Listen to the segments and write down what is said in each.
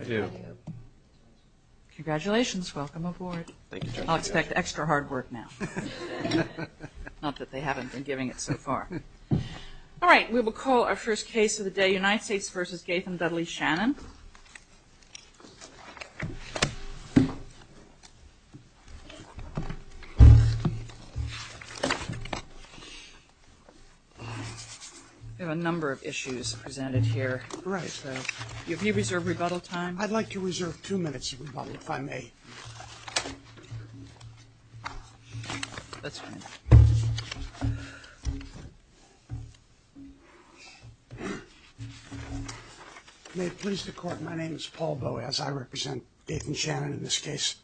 I do. Congratulations, welcome aboard. I'll expect extra hard work now. Not that they haven't been giving it so far. All right, we will call our first case of the day, United States v. Gaitham Dudley Shannon. We have a number of issues presented here. Right. Have you reserved rebuttal time? I'd like you to reserve two minutes of rebuttal, if I may. May it please the Court, my name is Paul Bowie, as I represent Gaitham Shannon in this case.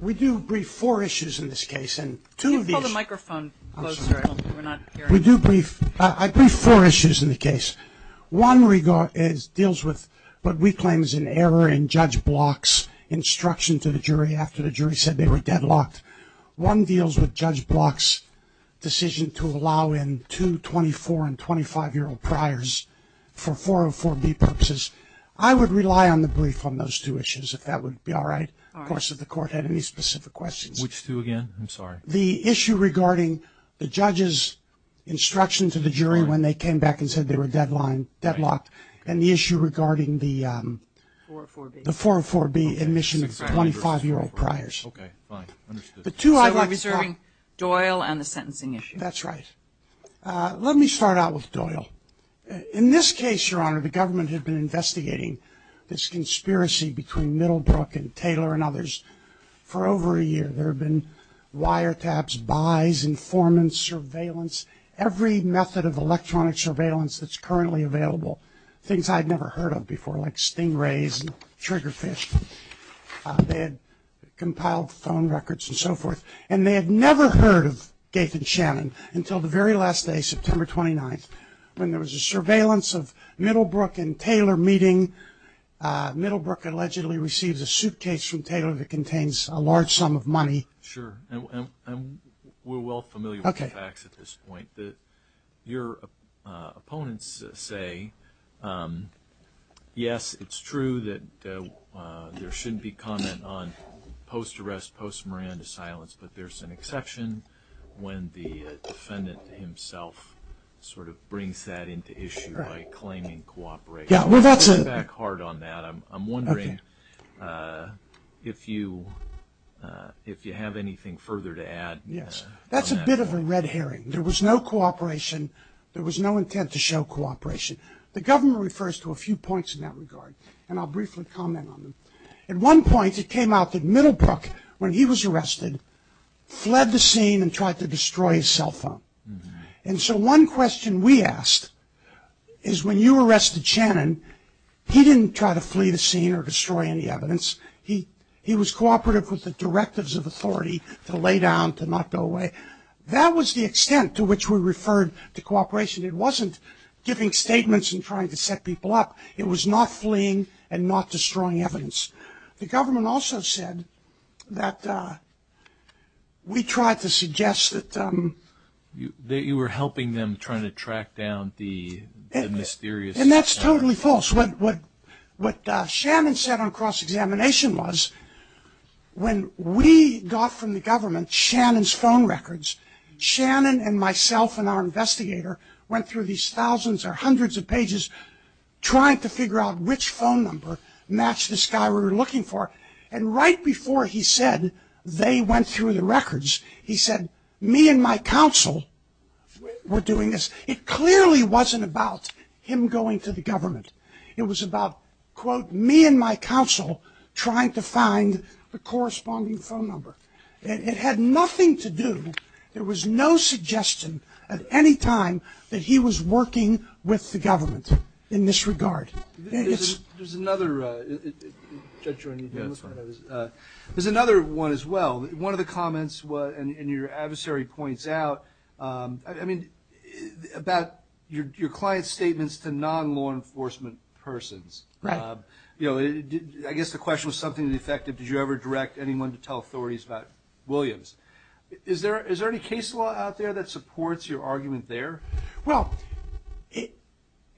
We do brief four issues in this case and two of these... Can you pull the microphone closer? I'm sorry. We're not hearing you. We do brief, I brief four issues in the case. One deals with what we claim is an error in Judge Block's instruction to the jury after the jury said they were deadlocked. One deals with Judge Block's decision to allow in two 24 and 25-year-old priors for 404B purposes. I would rely on the brief on those two issues, if that would be all right. Of course, if the Court had any specific questions. Which two again? I'm sorry. The issue regarding the judge's instruction to the jury when they came back and said they were deadlocked. And the issue regarding the 404B admission of 25-year-old priors. Okay, fine. Understood. So we're reserving Doyle and the sentencing issue. That's right. Let me start out with Doyle. In this case, Your Honor, the government had been investigating this conspiracy between Middlebrook and Taylor and others for over a year. There had been wiretaps, buys, informants, surveillance. Every method of electronic surveillance that's currently available. Things I'd never heard of before, like stingrays and trigger fish. They had compiled phone records and so forth. And they had never heard of Gaith and Shannon until the very last day, September 29th, when there was a surveillance of Middlebrook and Taylor meeting. Middlebrook allegedly received a suitcase from Taylor that contains a large sum of money. Sure. And we're well familiar with the facts at this point. Your opponents say, yes, it's true that there shouldn't be comment on post-arrest, post-Miranda silence, but there's an exception when the defendant himself sort of brings that into issue by claiming cooperation. Yeah, well that's a... Yes. That's a bit of a red herring. There was no cooperation. There was no intent to show cooperation. The government refers to a few points in that regard, and I'll briefly comment on them. At one point, it came out that Middlebrook, when he was arrested, fled the scene and tried to destroy his cell phone. And so one question we asked is, when you arrested Shannon, he didn't try to flee the scene or destroy any evidence. He was cooperative with the directives of authority to lay down, to not go away. That was the extent to which we referred to cooperation. It wasn't giving statements and trying to set people up. It was not fleeing and not destroying evidence. The government also said that we tried to suggest that... You were helping them try to track down the mysterious... When we got from the government Shannon's phone records, Shannon and myself and our investigator went through these thousands or hundreds of pages trying to figure out which phone number matched this guy we were looking for. And right before he said they went through the records, he said, me and my counsel were doing this. It clearly wasn't about him going to the government. It was about, quote, me and my counsel trying to find the corresponding phone number. It had nothing to do, there was no suggestion at any time that he was working with the government in this regard. There's another... Judge, you're on the phone. There's another one as well. One of the comments and your adversary points out, I mean, about your client's statements to non-law enforcement persons. I guess the question was something to the effect of, did you ever direct anyone to tell authorities about Williams? Is there any case law out there that supports your argument there? Well,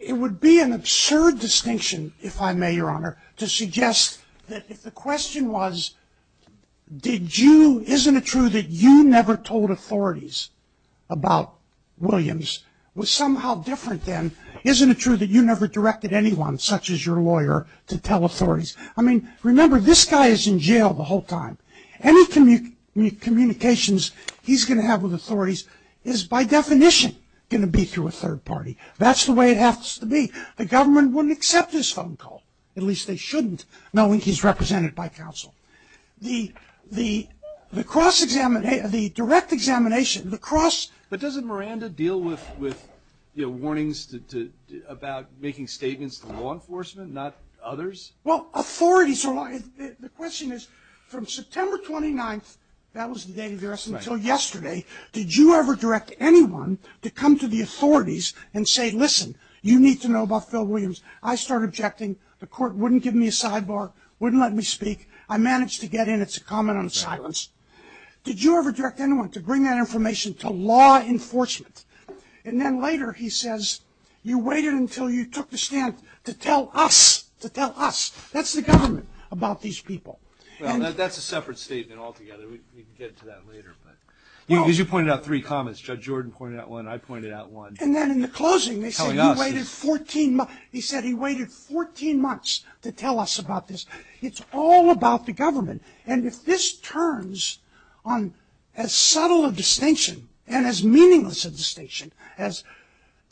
it would be an absurd distinction, if I may, Your Honor, to suggest that if the question was, isn't it true that you never told authorities about Williams, was somehow different then, isn't it true that you never directed anyone, such as your lawyer, to tell authorities? I mean, remember, this guy is in jail the whole time. Any communications he's going to have with authorities is, by definition, going to be through a third party. That's the way it has to be. The government wouldn't accept his phone call. At least they shouldn't, knowing he's represented by counsel. The cross-examination, the direct examination, the cross... But doesn't Miranda deal with, you know, warnings about making statements to law enforcement, not others? Well, authorities... The question is, from September 29th, that was the day of the arrest, until yesterday, did you ever direct anyone to come to the authorities and say, listen, you need to know about Phil Williams. I started objecting. The court wouldn't give me a sidebar, wouldn't let me speak. I managed to get in. It's a comment on silence. Did you ever direct anyone to bring that information to law enforcement? And then later, he says, you waited until you took the stand to tell us, to tell us. That's the government about these people. That's a separate statement altogether. We can get to that later. But as you pointed out, three comments. Judge Jordan pointed out one. I pointed out one. And then in the closing, they said he waited 14 months to tell us about this. It's all about the government. And if this turns on as subtle a distinction and as meaningless a distinction as,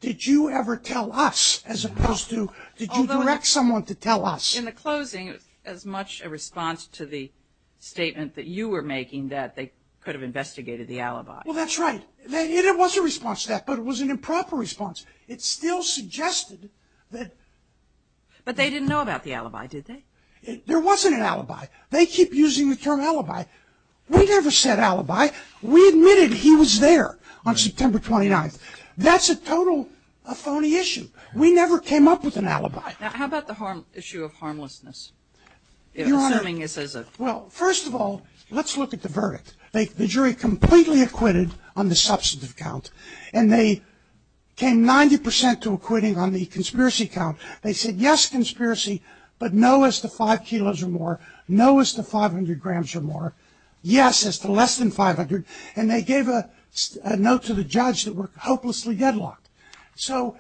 did you ever tell us, as opposed to, did you direct someone to tell us? In the closing, it was as much a response to the statement that you were making that they could have investigated the alibi. Well, that's right. It was a response to that, but it was an improper response. It still suggested that... But they didn't know about the alibi, did they? There wasn't an alibi. They keep using the term alibi. We never said alibi. We admitted he was there on September 29th. That's a total, a phony issue. We never came up with an alibi. Now, how about the issue of harmlessness? Assuming this is a... Well, first of all, let's look at the verdict. The jury completely acquitted on the substantive count, and they came 90 percent to acquitting on the conspiracy count. They said, yes, conspiracy, but no as to five kilos or more, no as to 500 grams or more, yes as to less than 500, and they gave a note to the judge that we're hopelessly deadlocked. So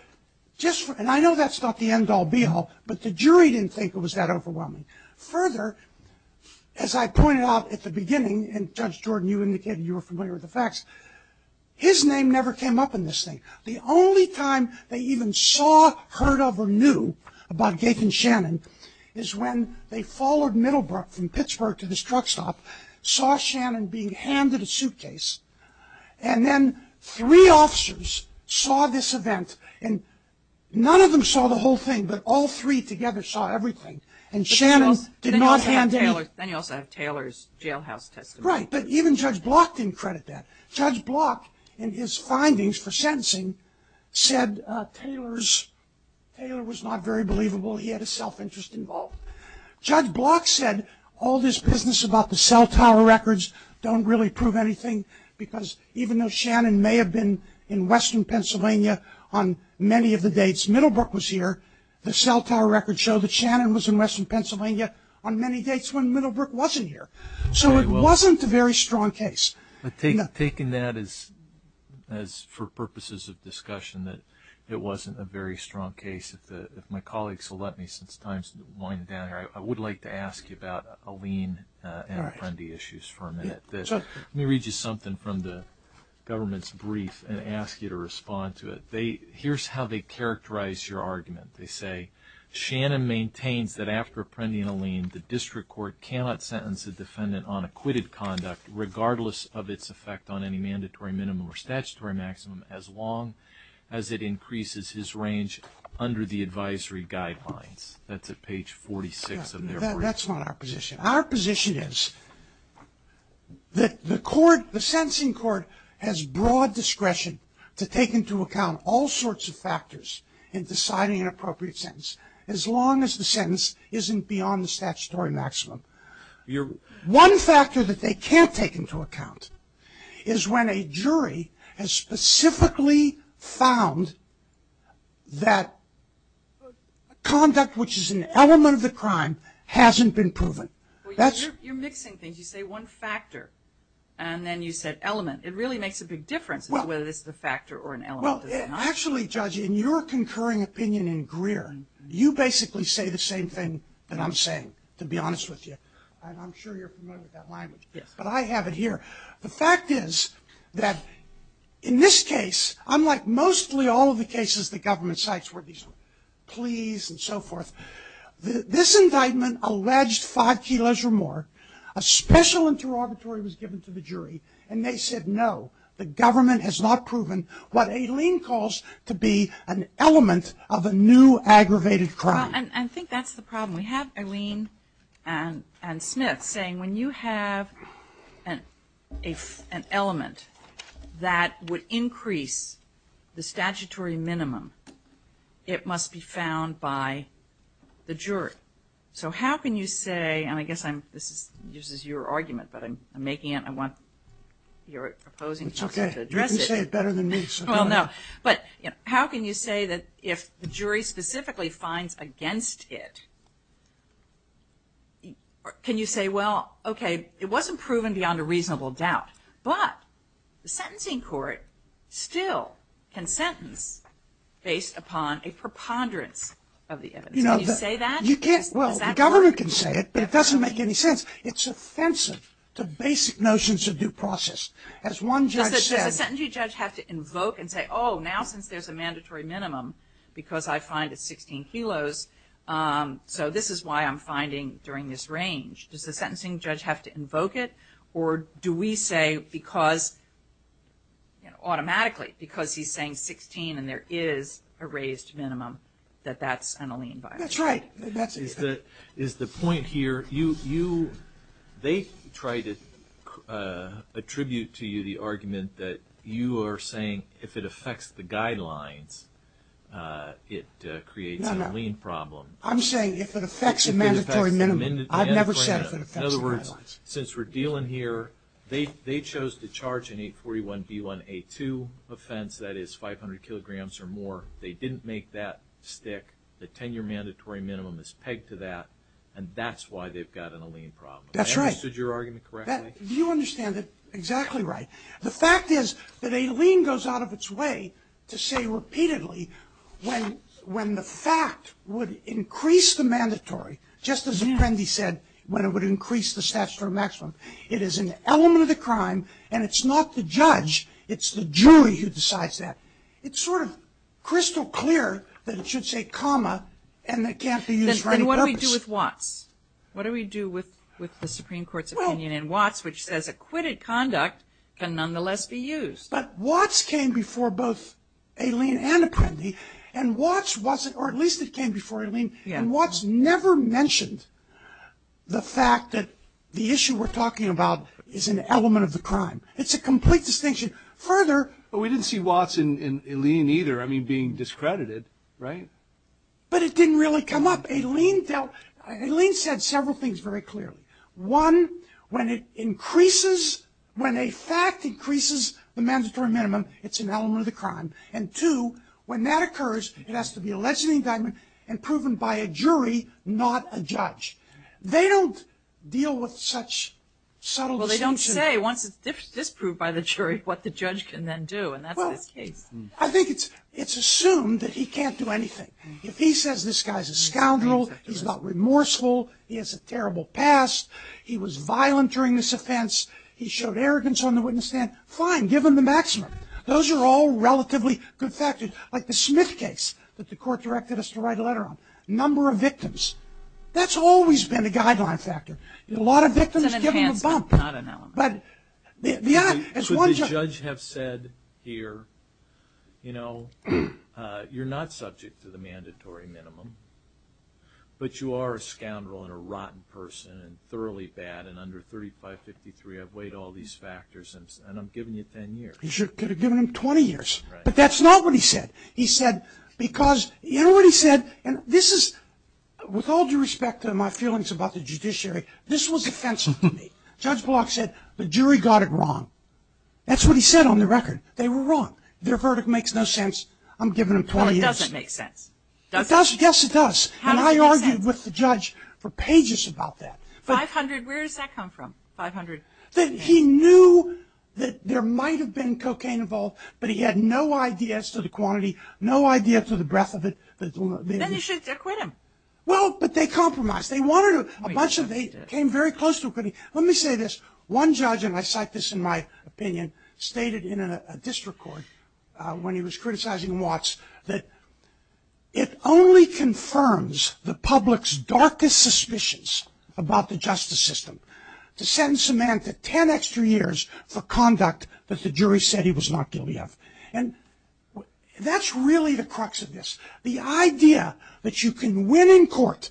just for... And I know that's not the end all be all, but the jury didn't think it was that overwhelming. Further, as I pointed out at the beginning, and Judge Jordan, you indicated you were familiar with the facts, his name never came up in this thing. The only time they even saw, heard of, or knew about Gaethan Shannon is when they followed Middlebrook from Pittsburgh to this truck stop, saw Shannon being handed a suitcase, and then three officers saw this event, and none of them saw the whole thing, but all three together saw everything, and Shannon did not hand him... Then you also have Taylor's jailhouse testimony. Right, but even Judge Block didn't credit that. Judge Block, in his findings for sentencing, said Taylor's... Taylor was not very believable, he had a self-interest involved. Judge Block said all this business about the cell tower records don't really prove anything, because even though Shannon may have been in western Pennsylvania on many of the dates Middlebrook was here, the cell tower records show that Shannon was in western Pennsylvania on many dates when Middlebrook wasn't here. So it wasn't a very strong case. But taking that as for purposes of discussion, that it wasn't a very strong case, if my colleagues will let me, since time's winding down here, I would like to ask you about Alene and Apprendi issues for a minute. Let me read you something from the government's brief and ask you to respond to it. Here's how they characterize your argument. They say, Shannon maintains that after Apprendi and Alene, the district court cannot sentence a defendant on acquitted conduct regardless of its effect on any mandatory minimum or statutory maximum as long as it increases his range under the advisory guidelines. That's at page 46 of their brief. That's not our position. Our position is that the court, the sentencing court has broad discretion to take into account all sorts of factors in deciding an appropriate sentence as long as the sentence isn't beyond the statutory maximum. One factor that they can't take into account is when a jury has specifically found that conduct which is an element of the crime hasn't been proven. Well, you're mixing things. You say one factor and then you said element. It really makes a big difference whether it's a factor or an element. Well, actually, Judge, in your concurring opinion in Greer, you basically say the same thing that I'm saying, to be honest with you. And I'm sure you're familiar with that language. But I have it here. The fact is that in this case, unlike mostly all of the cases the government cites where these pleas and so forth, this indictment alleged five kilos or more, a special interrogatory was given to the jury, and they said no, the government has not proven what Aileen calls to be an element of a new aggravated crime. And I think that's the problem. We have Aileen and Smith saying when you have an element that would increase the statutory minimum, it must be found by the jury. So how can you say, and I guess this is your argument, but I'm making it, I want your opposing side to address it. Well, no. But how can you say that if the jury specifically finds against it, can you say, well, okay, it wasn't proven beyond a reasonable doubt, but the sentencing court still can sentence based upon a preponderance of the evidence. Can you say that? Well, the governor can say it, but it doesn't make any sense. It's offensive to basic notions of due process. As one judge said Does the sentencing judge have to invoke and say, oh, now since there's a mandatory minimum because I find it 16 kilos, so this is why I'm finding during this range. Does the sentencing judge have to invoke it, or do we say because, you know, automatically, because he's saying 16 and there is a raised minimum, that that's an Aileen violation? That's right. Is the point here, you, they try to attribute to you the argument that you are saying if it affects the guidelines, it creates an Aileen problem. I'm saying if it affects a mandatory minimum. I've never said if it affects the guidelines. In other words, since we're dealing here, they chose to charge an 841B1A2 offense that is 500 kilograms or more. They didn't make that stick. The 10-year mandatory minimum is pegged to that, and that's why they've got an Aileen problem. That's right. I understood your argument correctly. You understand it exactly right. The fact is that Aileen goes out of its way to say repeatedly when the fact would increase the mandatory, just as Apprendi said, when it would increase the statutory maximum. It is an element of the crime, and it's not the It's sort of crystal clear that it should say comma and that can't be used for any purpose. Then what do we do with Watts? What do we do with the Supreme Court's opinion in Watts which says acquitted conduct can nonetheless be used? But Watts came before both Aileen and Apprendi, and Watts wasn't, or at least it came before Aileen, and Watts never mentioned the fact that the issue we're talking about is an element of the crime. It's a complete distinction. Further, we didn't see Watts in Aileen either, I mean, being discredited, right? But it didn't really come up. Aileen dealt, Aileen said several things very clearly. One, when it increases, when a fact increases the mandatory minimum, it's an element of the crime. And two, when that occurs, it has to be a legitimate indictment and proven by a jury, not a judge. They don't deal with such subtle distinction. But you say, once it's disproved by the jury, what the judge can then do, and that's this case. I think it's assumed that he can't do anything. If he says this guy's a scoundrel, he's not remorseful, he has a terrible past, he was violent during this offense, he showed arrogance on the witness stand, fine, give him the maximum. Those are all relatively good factors. Like the Smith case that the court directed us to write a letter on. Number of victims. That's always been a guideline factor. A lot of victims give him a bump. Not an element. But the other... Should the judge have said here, you know, you're not subject to the mandatory minimum, but you are a scoundrel and a rotten person and thoroughly bad and under 3553 I've weighed all these factors and I'm giving you 10 years. He should have given him 20 years. Right. But that's not what he said. He said, because, you know what he said, and this is, with all due respect to my feelings about the judiciary, this was offensive to me. Judge Block said the jury got it wrong. That's what he said on the record. They were wrong. Their verdict makes no sense. I'm giving him 20 years. Well, it doesn't make sense. It does. Yes, it does. How does it make sense? And I argued with the judge for pages about that. 500, where does that come from? 500? He knew that there might have been cocaine involved, but he had no idea as to the quantity, no idea to the breadth of it. Then you should acquit him. Well, but they compromised. They wanted to, a bunch of, they came very close to acquitting. Let me say this. One judge, and I cite this in my opinion, stated in a district court when he was criticizing Watts that it only confirms the public's darkest suspicions about the justice system to sentence a man to 10 extra years for conduct that the jury said he was not guilty of. And that's really the crux of this. The idea that you can win in court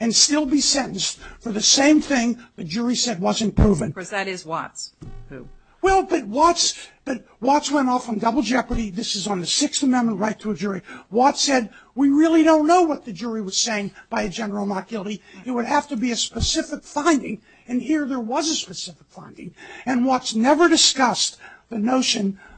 and still be sentenced for the same thing the jury said wasn't proven. Because that is Watts, who? Well, but Watts, but Watts went off on double jeopardy. This is on the Sixth Amendment right to a jury. Watts said, we really don't know what the jury was saying by a general not guilty. It would have to be a specific finding. And here there was a specific finding. And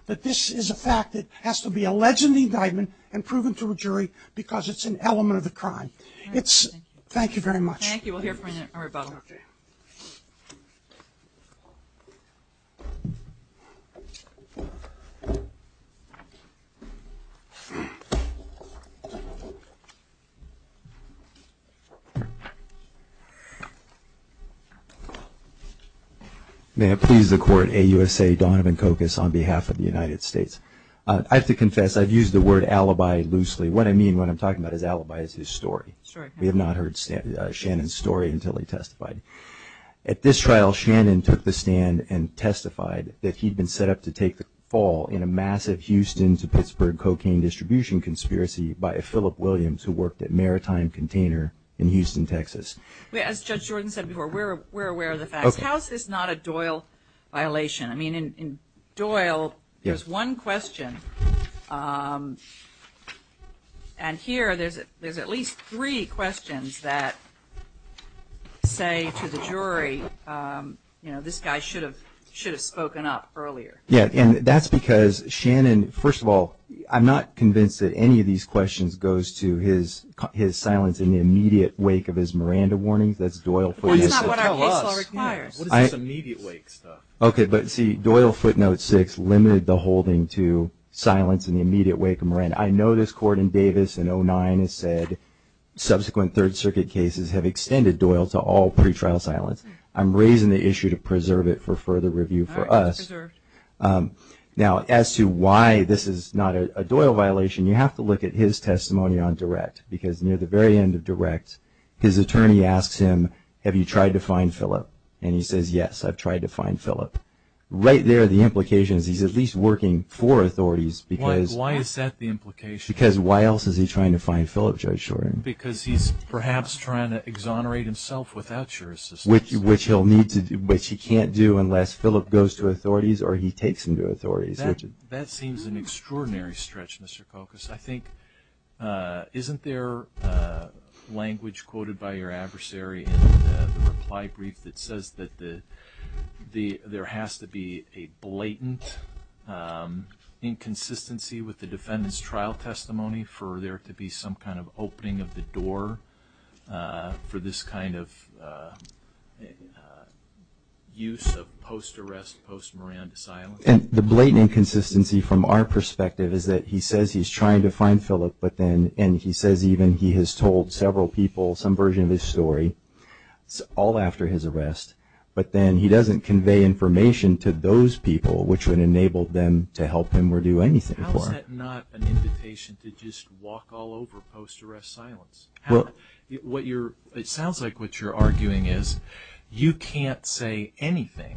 that this is a fact that has to be alleged in the indictment and proven to a jury because it's an element of the crime. It's, thank you very much. Thank you. We'll hear from you in a rebuttal. May it please the court, AUSA Donovan Cocos on behalf of the United States. I have to confess, I've used the word alibi loosely. What I mean when I'm talking about his alibi is his story. We have not heard Shannon's story until he testified. At this trial, Shannon took the stand and testified that he'd been set up to take the fall in a massive Houston to Pittsburgh cocaine distribution conspiracy by a Philip Williams who worked at Maritime Container in Houston, Texas. As Judge Jordan said before, we're aware of the facts. How is this not a Doyle violation? I mean, in Doyle, there's one question. And here there's at least three questions that say to the jury, you know, this guy should have spoken up earlier. Yeah, and that's because Shannon, first of all, I'm not convinced that any of these questions goes to his silence in the immediate wake of his Miranda warnings. That's Doyle for you. That's not what our case law requires. What is his immediate wake stuff? Okay, but see, Doyle footnote six limited the holding to silence in the immediate wake of Miranda. I know this court in Davis in 09 has said subsequent Third Circuit cases have extended Doyle to all pretrial silence. I'm raising the issue to preserve it for further review for us. All right, it's preserved. Now, as to why this is not a Doyle violation, you have to look at his testimony on direct because near the very end of direct, his attorney asks him, have you tried to find Philip? And he says, yes, I've tried to find Philip. Right there, the implication is he's at least working for authorities because Why is that the implication? Because why else is he trying to find Philip, Judge Shorin? Because he's perhaps trying to exonerate himself without your assistance. Which he can't do unless Philip goes to authorities or he takes him to authorities. That seems an extraordinary stretch, Mr. Kokos. I think, isn't there language quoted by your attorney that says that there has to be a blatant inconsistency with the defendant's trial testimony for there to be some kind of opening of the door for this kind of use of post-arrest, post-Miranda silence? And the blatant inconsistency from our perspective is that he says he's trying to find Philip but then, and he says even he has told several people some version of his story all after his arrest, but then he doesn't convey information to those people which would enable them to help him or do anything for him. How is that not an invitation to just walk all over post-arrest silence? It sounds like what you're arguing is you can't say anything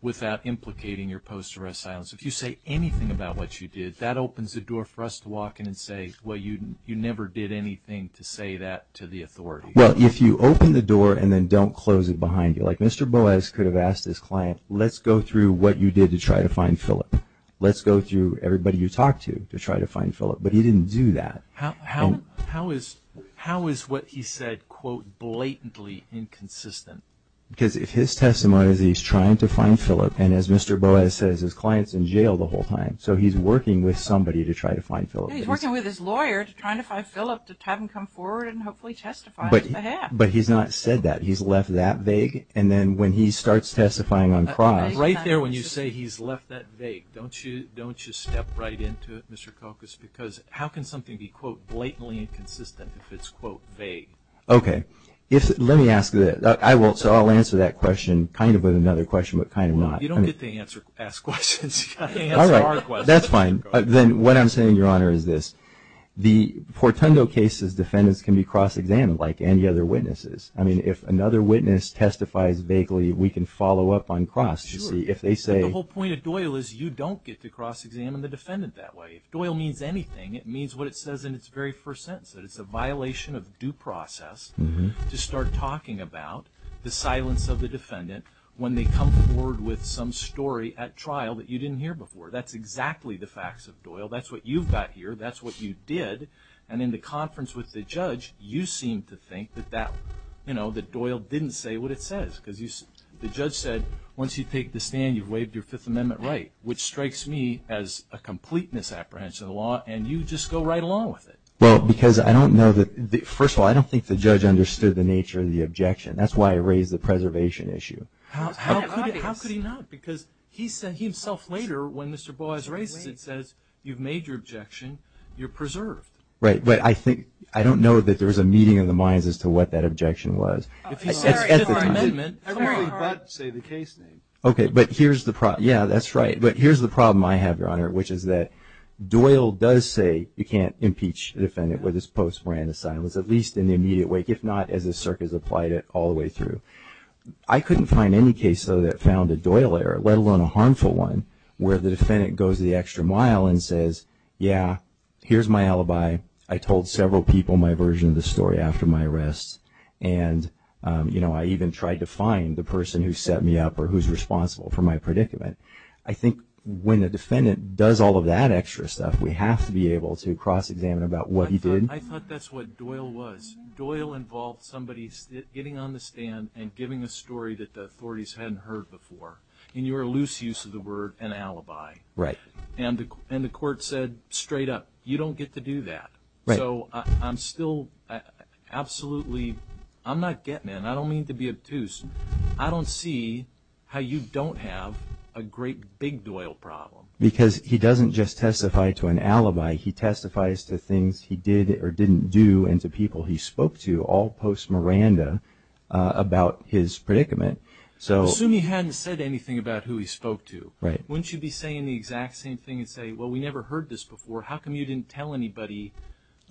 without implicating your post-arrest silence. If you say anything about what you did, that opens the door for us to walk in and say, well, you never did anything to say that to the authorities. Well, if you open the door and then don't close it behind you, like Mr. Boas could have asked his client, let's go through what you did to try to find Philip. Let's go through everybody you talked to to try to find Philip, but he didn't do that. How is what he said, quote, blatantly inconsistent? Because if his testimony is he's trying to find Philip and as Mr. Boas says, his client is in jail the whole time, so he's working with somebody to try to find Philip. He's working with his lawyer to try to find Philip to have him come forward and hopefully testify. But he's not said that. He's left that vague, and then when he starts testifying on trial... Right there when you say he's left that vague, don't you step right into it, Mr. Kokos, because how can something be, quote, blatantly inconsistent if it's, quote, vague? Okay. Let me ask you that. So I'll answer that question kind of with another question but kind of not. You don't get to ask questions. You've got to answer our questions. That's fine. Then what I'm saying, Your Honor, is this. The Portungo case's defendants can be cross-examined like any other witnesses. I mean, if another witness testifies vaguely, we can follow up on cross. Sure. The whole point of Doyle is you don't get to cross-examine the defendant that way. If Doyle means anything, it means what it says in its very first sentence, that it's a violation of due process to start talking about the silence of the defendant when they come forward with some story at trial that you didn't hear before. That's exactly the facts of Doyle. That's what you've got here. That's what you did. And in the conference with the judge, you seem to think that Doyle didn't say what it says because the judge said, once you take the stand, you've waived your Fifth Amendment right, which strikes me as a complete misapprehension of the law, and you just go right along with it. Well, because I don't know that... First of all, I don't think the judge understood the nature of the objection. That's why I raised the preservation issue. How could he not? Because he himself later, when Mr. Boies raises it, says, you've made your objection, you're preserved. Right, but I think, I don't know that there was a meeting of the minds as to what that objection was. If he says Fifth Amendment, come on. Everybody but say the case name. Okay, but here's the problem. Yeah, that's right. But here's the problem I have, Your Honor, which is that Doyle does say you can't impeach the defendant with his post-Miranda silence, at least in the immediate wake, if not as the circuit has applied it all the way through. I couldn't find any case, though, that found a Doyle error, let alone a harmful one, where the defendant goes the extra mile and says, yeah, here's my alibi. I told several people my version of the story after my arrest, and I even tried to find the person who set me up or who's responsible for my predicament. I think when a defendant does all of that extra stuff, we have to be able to cross-examine about what he did. I thought that's what Doyle was. Doyle involved somebody getting on the stand and giving a story that the authorities hadn't heard before. And you were a loose use of the word an alibi. Right. And the court said straight up, you don't get to do that. Right. So I'm still absolutely, I'm not getting in. I don't mean to be obtuse. I don't see how you don't have a great big Doyle problem. Because he doesn't just testify to an alibi. He testifies to things he did or didn't do and to people he spoke to all post-Miranda about his predicament. Assume he hadn't said anything about who he spoke to. Right. Wouldn't you be saying the exact same thing and say, well, we never heard this before. How come you didn't tell anybody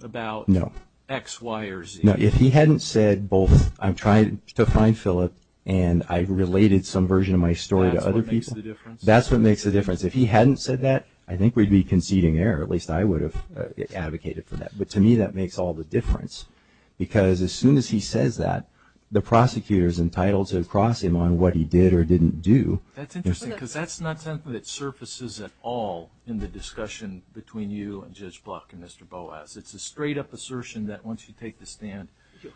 about X, Y, or Z? No. If he hadn't said both, I'm trying to find Philip and I've related some version of my story to other people. That's what makes the difference? If he hadn't said that, I think we'd be conceding error. At least I would have advocated for that. But to me, that makes all the difference. Because as soon as he says that, the prosecutor is entitled to cross him on what he did or didn't do. That's interesting, because that's not something that surfaces at all in the discussion between you and Judge Block and Mr. Boas. It's a straight up assertion that once you take the stand,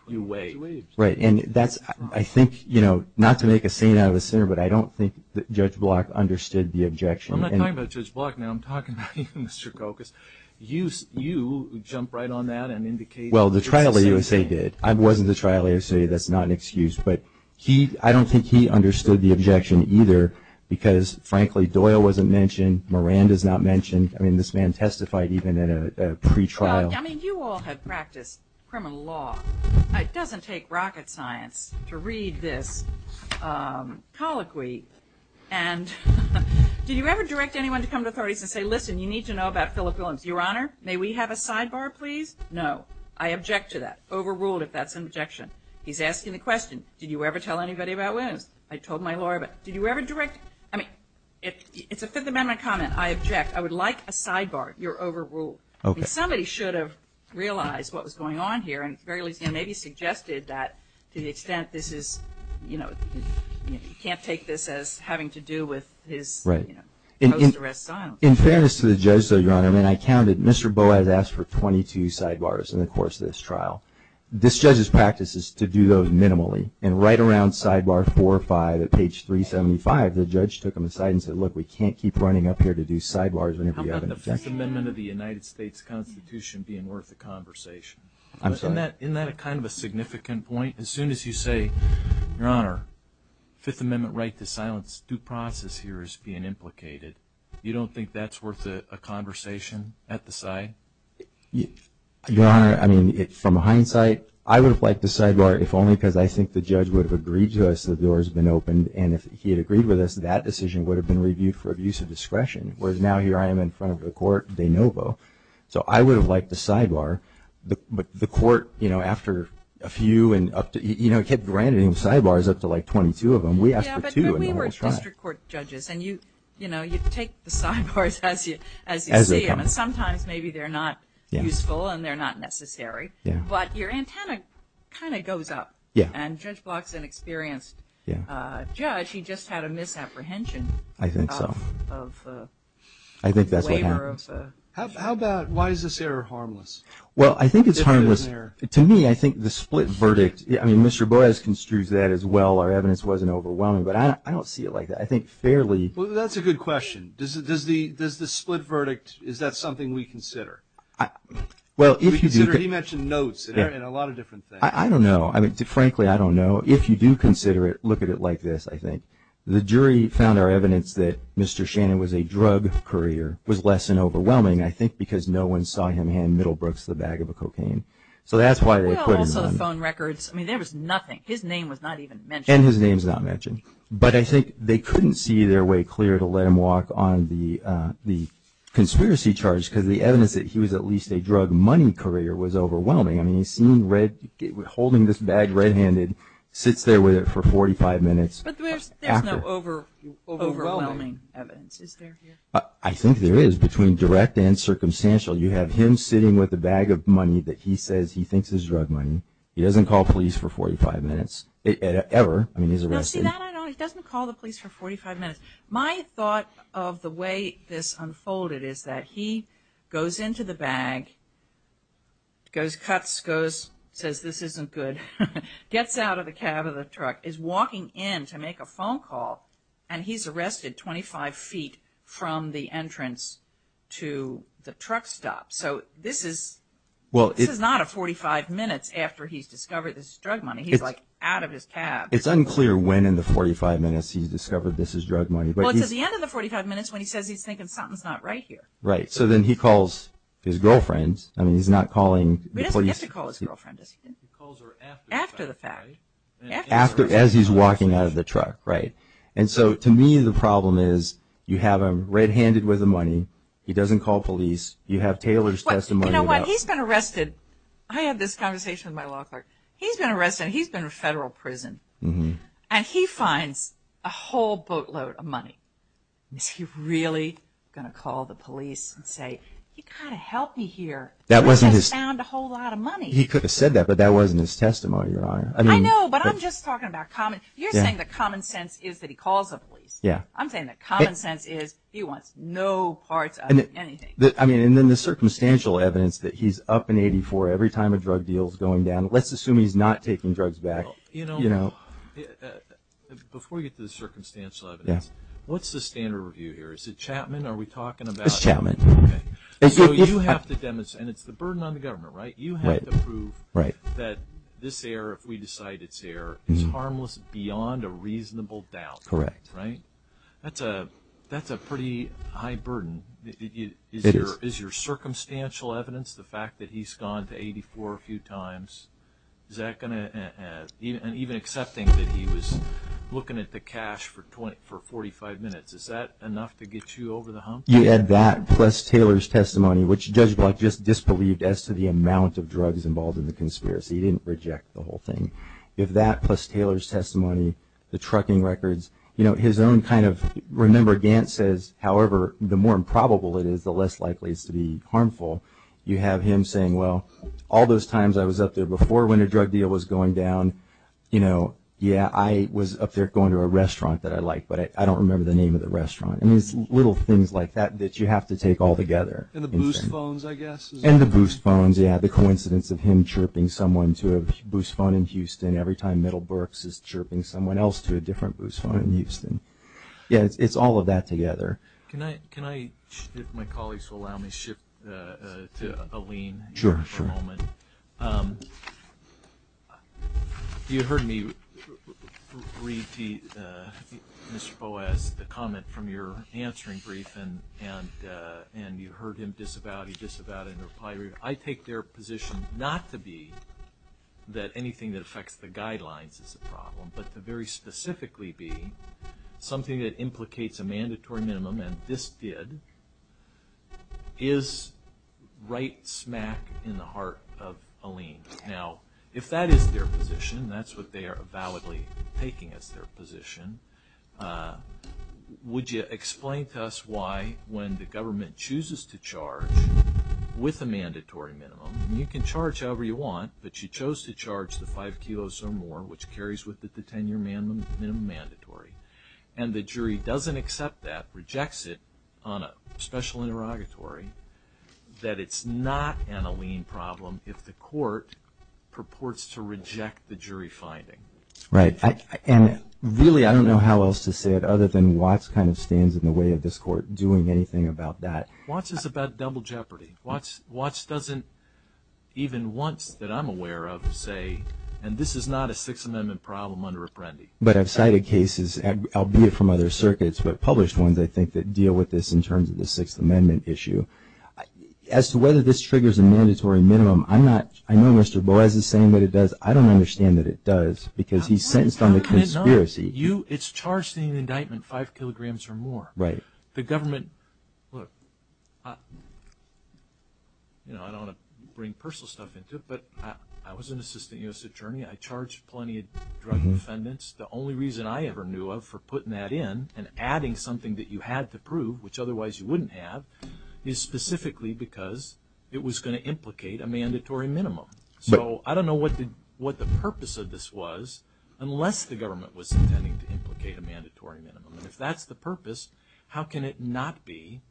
you weigh. Right. And that's, I think, you know, not to make a scene out of this here, but I don't think Judge Block understood the objection. I'm not talking about Judge Block now. I'm talking about you, Mr. Kokos. You jumped right on that and indicated the exact same thing. Well, the trial he was saying did. I wasn't the trial he was saying. That's not an excuse. But I don't think he understood the objection either, because frankly, Doyle wasn't mentioned. Morand is not mentioned. I mean, this man testified even at a pre-trial. Well, I mean, you all have practiced criminal law. It doesn't take rocket science to read this colloquy. And did you ever direct anyone to come to authorities and say, listen, you need to know about Philip Williams? Your Honor, may we have a sidebar, please? No. I object to that. Overruled if that's an objection. He's asking the question, did you ever tell anybody about Williams? I told my lawyer about it. Did you ever direct? I mean, it's a Fifth Amendment comment. I object. I would like a sidebar. You're overruled. Somebody should have realized what was going on here and maybe suggested that to the extent this is, you know, you can't take this as having to do with his post-arrest silence. In fairness to the judge, though, Your Honor, I mean, I counted. Mr. Boaz asked for 22 sidebars in the course of this trial. This judge's practice is to do those minimally. And right around sidebar four or five at page 375, the judge took them aside and said, look, we can't keep running up here to do sidebars whenever you have an objection. Isn't the Fifth Amendment of the United States Constitution being worth a conversation? I'm sorry? Isn't that kind of a significant point? As soon as you say, Your Honor, Fifth Amendment right to silence due process here is being implicated, you don't think that's worth a conversation at the side? Your Honor, I mean, from hindsight, I would have liked the sidebar if only because I think the judge would have agreed to us that the door has been opened. And if he had agreed with us, that decision would have been reviewed for abuse of discretion. Whereas now here I am in front of the court, de novo. So I would have liked the sidebar. But the court, you know, after a few and up to, you know, kept granting sidebars up to like 22 of them. We asked for two in the whole trial. Yeah, but we were district court judges. And you, you know, you take the sidebars as you see them. And sometimes maybe they're not useful and they're not necessary. But your antenna kind of goes up. Yeah. And Judge Block's an experienced judge. He just had a misapprehension. I think so. I think that's what happened. How about why is this error harmless? Well, I think it's harmless. To me, I think the split verdict, I mean, Mr. Borges construes that as well. Our evidence wasn't overwhelming. But I don't see it like that. I think fairly. Well, that's a good question. Does the split verdict, is that something we consider? Well, if you do. We consider, he mentioned notes and a lot of different things. I don't know. I mean, frankly, I don't know. If you do consider it, look at it like this, I think. The jury found our evidence that Mr. Shannon was a drug courier was less than overwhelming, I think, because no one saw him hand Middlebrooks the bag of cocaine. So that's why they couldn't. Well, also the phone records. I mean, there was nothing. His name was not even mentioned. And his name's not mentioned. But I think they couldn't see their way clear to let him walk on the conspiracy charge because the evidence that he was at least a drug money courier was overwhelming. I mean, he's seen red, holding this bag red-handed, sits there with it for 45 minutes. But there's no overwhelming evidence. Is there? I think there is, between direct and circumstantial. You have him sitting with a bag of money that he says he thinks is drug money. He doesn't call police for 45 minutes, ever. I mean, he's arrested. No, see, that I know. He doesn't call the police for 45 minutes. My thought of the way this unfolded is that he goes into the bag, goes, cuts, goes, says, this isn't good, gets out of the cab of the truck, is walking in to make a phone call, and he's arrested 25 feet from the entrance to the truck stop. So this is not a 45 minutes after he's discovered this is drug money. He's, like, out of his cab. It's unclear when in the 45 minutes he's discovered this is drug money. Well, it's at the end of the 45 minutes when he says he's thinking something's not right here. Right. So then he calls his girlfriend. I mean, he's not calling the police. He doesn't have to call his girlfriend, does he? He calls her after the fact, right? After the fact. As he's walking out of the truck, right? And so, to me, the problem is you have him red-handed with the money. He doesn't call police. You have Taylor's testimony. You know what? He's been arrested. I had this conversation with my law clerk. He's been arrested. He's been to federal prison. Mm-hmm. And he finds a whole boatload of money. Is he really going to call the police and say, you've got to help me here? That wasn't his. We just found a whole lot of money. He could have said that, but that wasn't his testimony, Your Honor. I know, but I'm just talking about common... You're saying that common sense is that he calls the police. Yeah. I'm saying that common sense is he wants no parts of anything. I mean, and then the circumstantial evidence that he's up in 84 every time a drug deal is going down. Let's assume he's not taking drugs back. You know, before we get to the circumstantial evidence, what's the standard review here? Is it Chapman? Are we talking about... It's Chapman. So you have to demonstrate, and it's the burden on the government, right? Right. You have to prove that this error, if we decide it's error, is harmless beyond a reasonable doubt. Correct. Right? That's a pretty high burden. Is your circumstantial evidence, the fact that he's gone to 84 a few times, is that going to... And even accepting that he was looking at the cash for 45 minutes, is that enough to get you over the hump? You add that plus Taylor's testimony, which Judge Block just disbelieved as to the amount of drugs involved in the conspiracy. He didn't reject the whole thing. If that plus Taylor's testimony, the trucking records, you know, his own kind of... Remember, Gant says, however, the more improbable it is, the less likely it's to be harmful. You have him saying, well, all those times I was up there before when a drug deal was going down, you know, yeah, I was up there going to a restaurant that I like, but I don't remember the name of the restaurant. I mean, it's little things like that that you have to take all together. And the Boost phones, I guess. And the Boost phones, yeah. The coincidence of him chirping someone to a Boost phone in Houston every time Middlebrooks is chirping someone else to a different Boost phone in Houston. Yeah, it's all of that together. Can I... My colleagues will allow me to shift to Aline for a moment. Sure, sure. You heard me read to Mr. Boas the comment from your answering brief and you heard him disavow it, he disavowed it, and replied. I take their position not to be that anything that affects the guidelines is a problem, but to very specifically be something that implicates a mandatory minimum, and this did, is right smack in the heart of Aline. Now, if that is their position, that's what they are validly taking as their position, would you explain to us why, when the government chooses to charge with a mandatory minimum, you can charge however you want, but you chose to charge the 5 kilos or more which carries with it the 10-year minimum mandatory, and the jury doesn't accept that, rejects it on a special interrogatory, that it's not an Aline problem if the court purports to reject the jury finding. Right, and really I don't know how else to say it other than Watts kind of stands in the way of this court doing anything about that. Watts is about double jeopardy. Watts doesn't, even once that I'm aware of, say, and this is not a Sixth Amendment problem under Apprendi. But I've cited cases, albeit from other circuits, but published ones, I think, that deal with this in terms of the Sixth Amendment issue. As to whether this triggers a mandatory minimum, I'm not, I know Mr. Boies is saying that it does, I don't understand that it does, because he's sentenced on the conspiracy. It's charged in the indictment 5 kilograms or more. The government, look, I don't want to bring personal stuff into it, but I was an assistant U.S. attorney, I charged plenty of drug defendants. The only reason I ever knew of for putting that in and adding something that you had to prove, which otherwise you wouldn't have, is specifically because it was going to implicate a mandatory minimum. So I don't know what the purpose of this was unless the government was intending to implicate a mandatory minimum. And if that's the purpose, how can it not be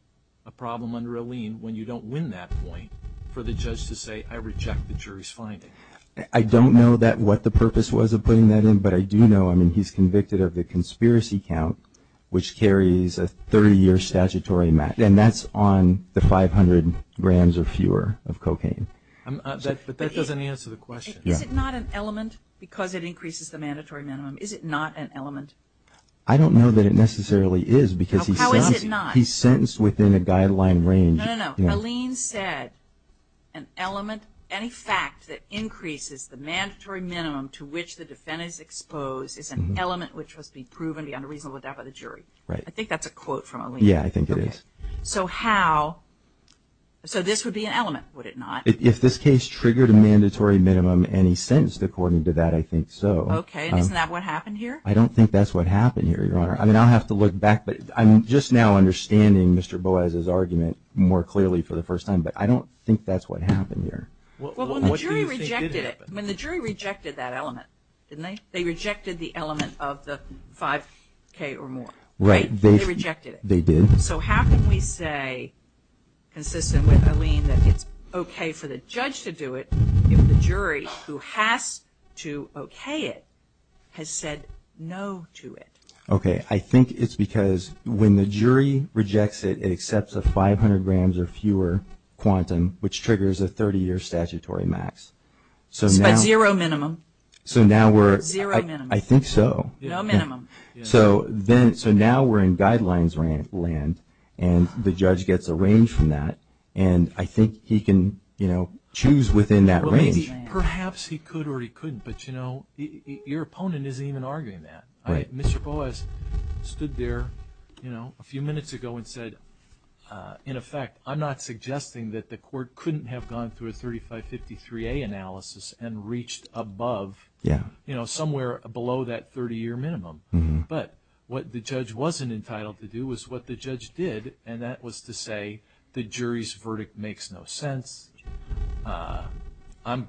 a problem under Alene when you don't win that point for the judge to say, I reject the jury's finding? I don't know what the purpose was of putting that in, but I do know, I mean, he's convicted of the conspiracy count which carries a 30-year statutory max, and that's on the 500 grams or fewer of cocaine. But that doesn't answer the question. Is it not an element, because it increases the mandatory minimum, is it not an element? I don't know that it necessarily is, because he's sentenced within a guideline range. No, no, no, Alene said an element, any fact that increases the mandatory minimum to which the defendant is exposed is an element which must be proven beyond a reasonable doubt by the jury. I think that's a quote from Alene. Yeah, I think it is. So how, so this would be an element, would it not? If this case triggered a mandatory minimum and he's sentenced according to that, I think so. Okay, and isn't that what happened here? I don't think that's what happened here, Your Honor. I mean, I'll have to look back, but I'm just now understanding Mr. Boas' argument more clearly for the first time, but I don't think that's what happened here. Well, when the jury rejected it, when the jury rejected that element, didn't they? They rejected the element of the 5K or more, right? They rejected it. They did. So how can we say, consistent with Alene, that it's okay for the judge to do it if the jury, who has to okay it, has said no to it? Okay, I think it's because when the jury rejects it, it accepts a 500 grams or fewer quantum, which triggers a 30-year statutory max. So by zero minimum? Zero minimum. I think so. No minimum. So now we're in guidelines land and the judge gets a range from that and I think he can choose within that range. Perhaps he could or he couldn't, but your opponent isn't even arguing that. Mr. Boas stood there a few minutes ago and said, in effect, I'm not suggesting that the court couldn't have gone through a 3553A analysis and reached above, somewhere below that 30-year minimum. But what the judge wasn't entitled to do was what the judge did and that was to say, the jury's verdict makes no sense, I'm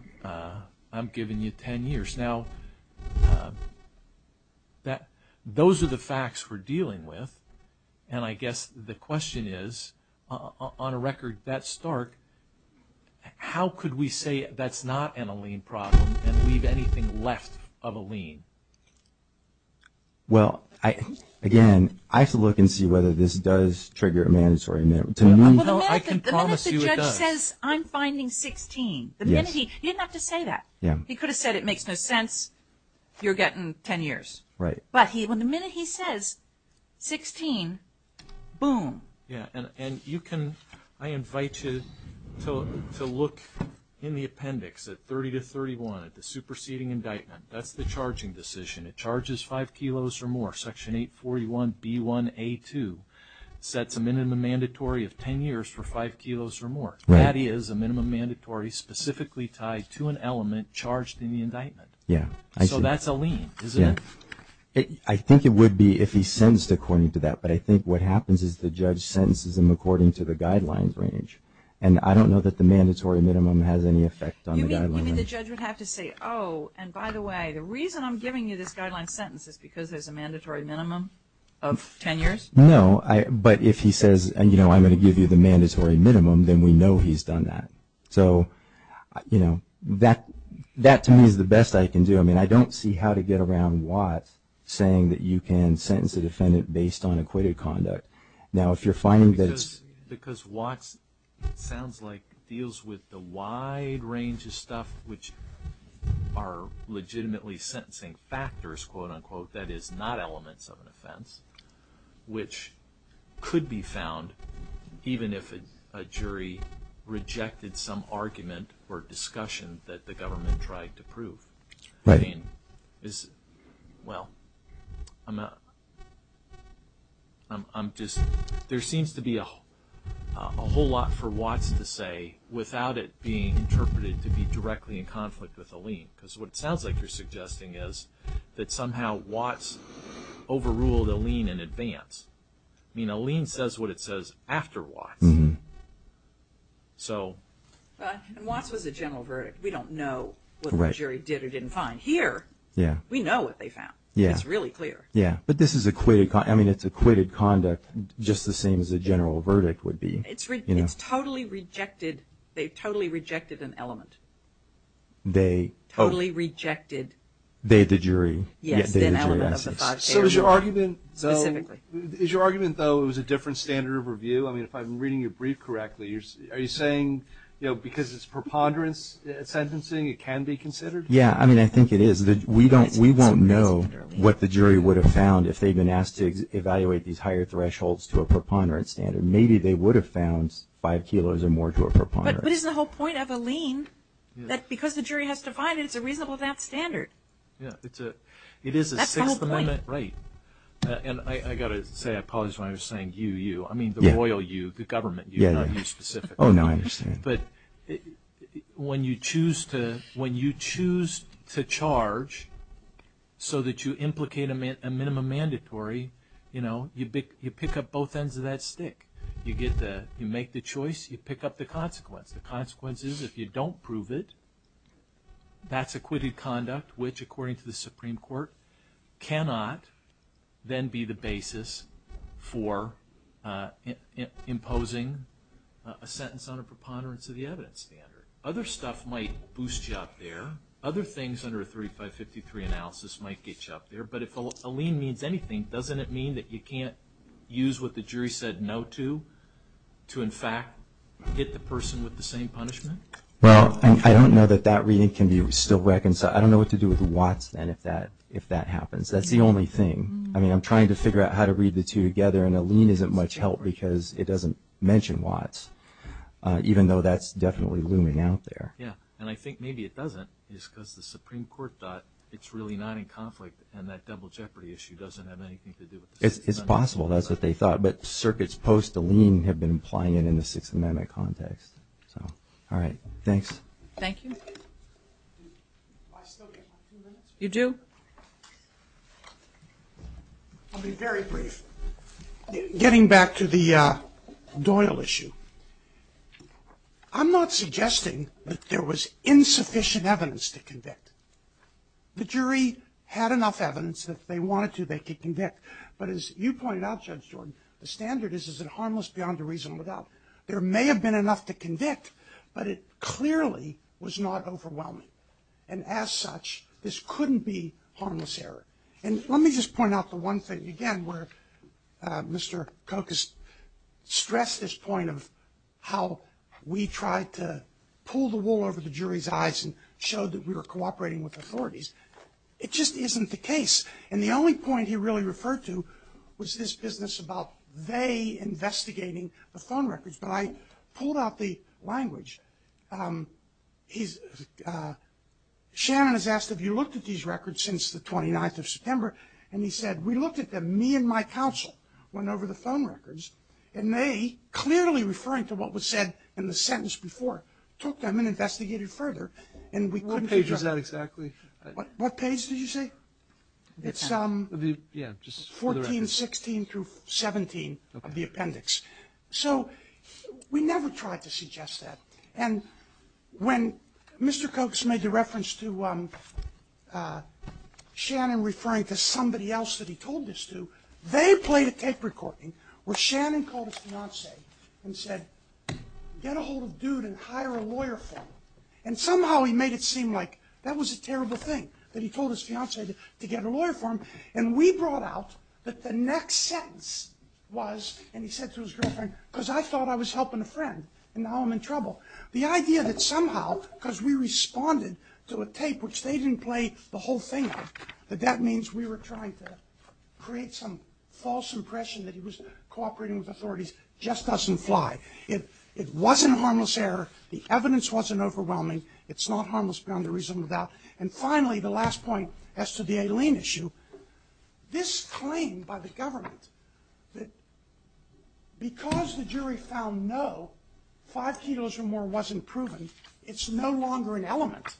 giving you 10 years. Now, those are the facts we're dealing with and I guess the question is, on a record that stark, how could we say that's not a lien problem and leave anything left of a lien? Well, again, I have to look and see whether this does trigger a mandatory minimum. I can promise you it does. The minute the judge says, I'm finding 16, the minute he, he didn't have to say that. He could have said, it makes no sense, you're getting 10 years. Right. But the minute he says 16, boom. Yeah, and you can, I invite you to look in the appendix at 30 to 31, at the superseding indictment. That's the charging decision. It charges 5 kilos or more. Section 841B1A2 sets a minimum mandatory of 10 years for 5 kilos or more. Right. That is a minimum mandatory specifically tied to an element charged in the indictment. Yeah, I see. So that's a lien, isn't it? Yeah. I think it would be if he sentenced according to that, but I think what happens is the judge sentences them according to the guidelines range. And I don't know that the mandatory minimum has any effect on the guidelines. You mean the judge would have to say, oh, and by the way, the reason I'm giving you this guideline sentence is because there's a mandatory minimum of 10 years? No, I, but if he says, and you know, I'm going to give you the mandatory minimum, then we know he's done that. So, you know, that, that to me is the best I can do. I mean, I don't see how to get around Watts saying that you can sentence a defendant based on acquitted conduct. Now if you're finding that it's... Because Watts sounds like deals with the wide range of stuff which are legitimately sentencing factors, quote unquote, that is not elements of an offense, which could be found even if a jury rejected some argument or discussion that the government tried to prove. Right. I mean, is, well, I'm not, I'm just, there seems to be a whole lot for Watts to say without it being interpreted to be directly in conflict with Alene. Because what it sounds like you're suggesting is that somehow Watts overruled Alene in advance. I mean, Alene says what it says after Watts. So... But, and Watts was a general verdict. We don't know what the jury did or didn't find. Here, we know what they found. Yeah. It's really clear. Yeah. But this is equated, I mean, it's equated conduct just the same as a general verdict would be. It's totally rejected, they totally rejected an element. They... Totally rejected... They, the jury. Yes, the element of the five cases. So, is your argument, though, it was a different standard of review? I mean, if I'm reading your brief correctly, are you saying, you know, because it's preponderance sentencing, it can be considered? Yeah, I mean, I think it is. We don't, we won't know what the jury would have found if they'd been asked to evaluate these higher thresholds to a preponderance standard. Maybe they would have found five kilos or more to a preponderance. But, but it's the whole point that because the jury has to find it, it's a reasonable of that standard. Yeah, it's a, it is a sixth limit. That's the whole point. Right. And I got to say, I apologize when I was saying you, you, I mean the royal you, the government you, not you specifically. Oh, no, I understand. But, when you choose to, when you choose to charge so that you implicate a minimum mandatory, you know, you pick up both ends of that stick. You get the, you make the choice, you pick up the consequence. The consequence is if you don't prove it, that's acquitted conduct, which, according to the Supreme Court, cannot then be the basis for imposing a sentence on a preponderance of the evidence standard. Other stuff might boost you up there. Other things under a 3553 analysis might get you up there. But if a lien means anything, doesn't it mean that you can't use what the jury said no to to in fact get the person with the same punishment? Well, I don't know that that reading can be still reconciled. I don't know what to do with Watts then if that happens. That's the only thing. I mean, I'm trying to figure out how to read the two together and a lien isn't much help because it doesn't mention Watts even though that's definitely looming out there. Yeah, and I think maybe it doesn't just because the Supreme Court thought it's really not in conflict and that double jeopardy issue doesn't have anything to do with the sentence. You do? I'll be very brief. Getting back to the Doyle issue, I'm not suggesting that there was insufficient evidence to convict. The jury had enough evidence that if they wanted to they could convict but as you pointed out Judge Jordan, the standard is is it harmless beyond a reasonable doubt? There may have been enough to convict but it clearly was not overwhelming and as such, this couldn't be harmless error. And let me just point out the one thing again where Mr. Kokus stressed this point of how we tried to pull the wool over the jury's eyes and show that we were cooperating with authorities. It just isn't the case and the only point he really referred to was this business about they investigating the phone records but I pulled out the language. Um, he's uh he said, have you looked at these records since the 29th of September? And he said, we looked at them me and my counsel went over the phone records and they clearly referring to what was said in the sentence before took them and investigated further and we couldn't figure out What page is that exactly? What page did you say? It's um 14, 16 through 17 of the appendix. So we never tried to suggest that and when Mr. Cox made the reference to um uh Shannon referring to somebody else that he told this to they played a tape recording where Shannon called his fiance and said get a hold of dude and hire a lawyer for him and somehow he made it seem like that was a terrible thing that he told his fiance to get a lawyer for him and we brought out that the next sentence was and he said to his girlfriend because I thought I was helping a friend and now I'm in trouble the idea that somehow because we responded to a tape which they didn't play the whole thing that that means we were trying to create some false impression that he was cooperating with authorities just doesn't fly it wasn't harmless error the evidence wasn't overwhelming it's not harmless beyond a reasonable doubt and finally the last point as to the Aileen issue this claim by the government that because the jury found no five kilos or more wasn't proven it's no longer an element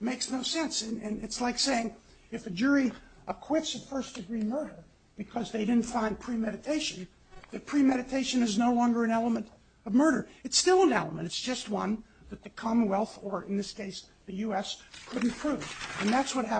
makes no sense and it's like saying if a jury acquits a first degree murder because they didn't find an element of premeditation that premeditation is no longer an element of murder it's still an element it's just one that the commonwealth or in this case found no five kilos or more wasn't proven it's no longer an element makes no sense and it's like saying if a jury acquits a first degree that the commonwealth or in this case found no five kilos or more wasn't proven it's still an element makes no sense and it's like saying if a jury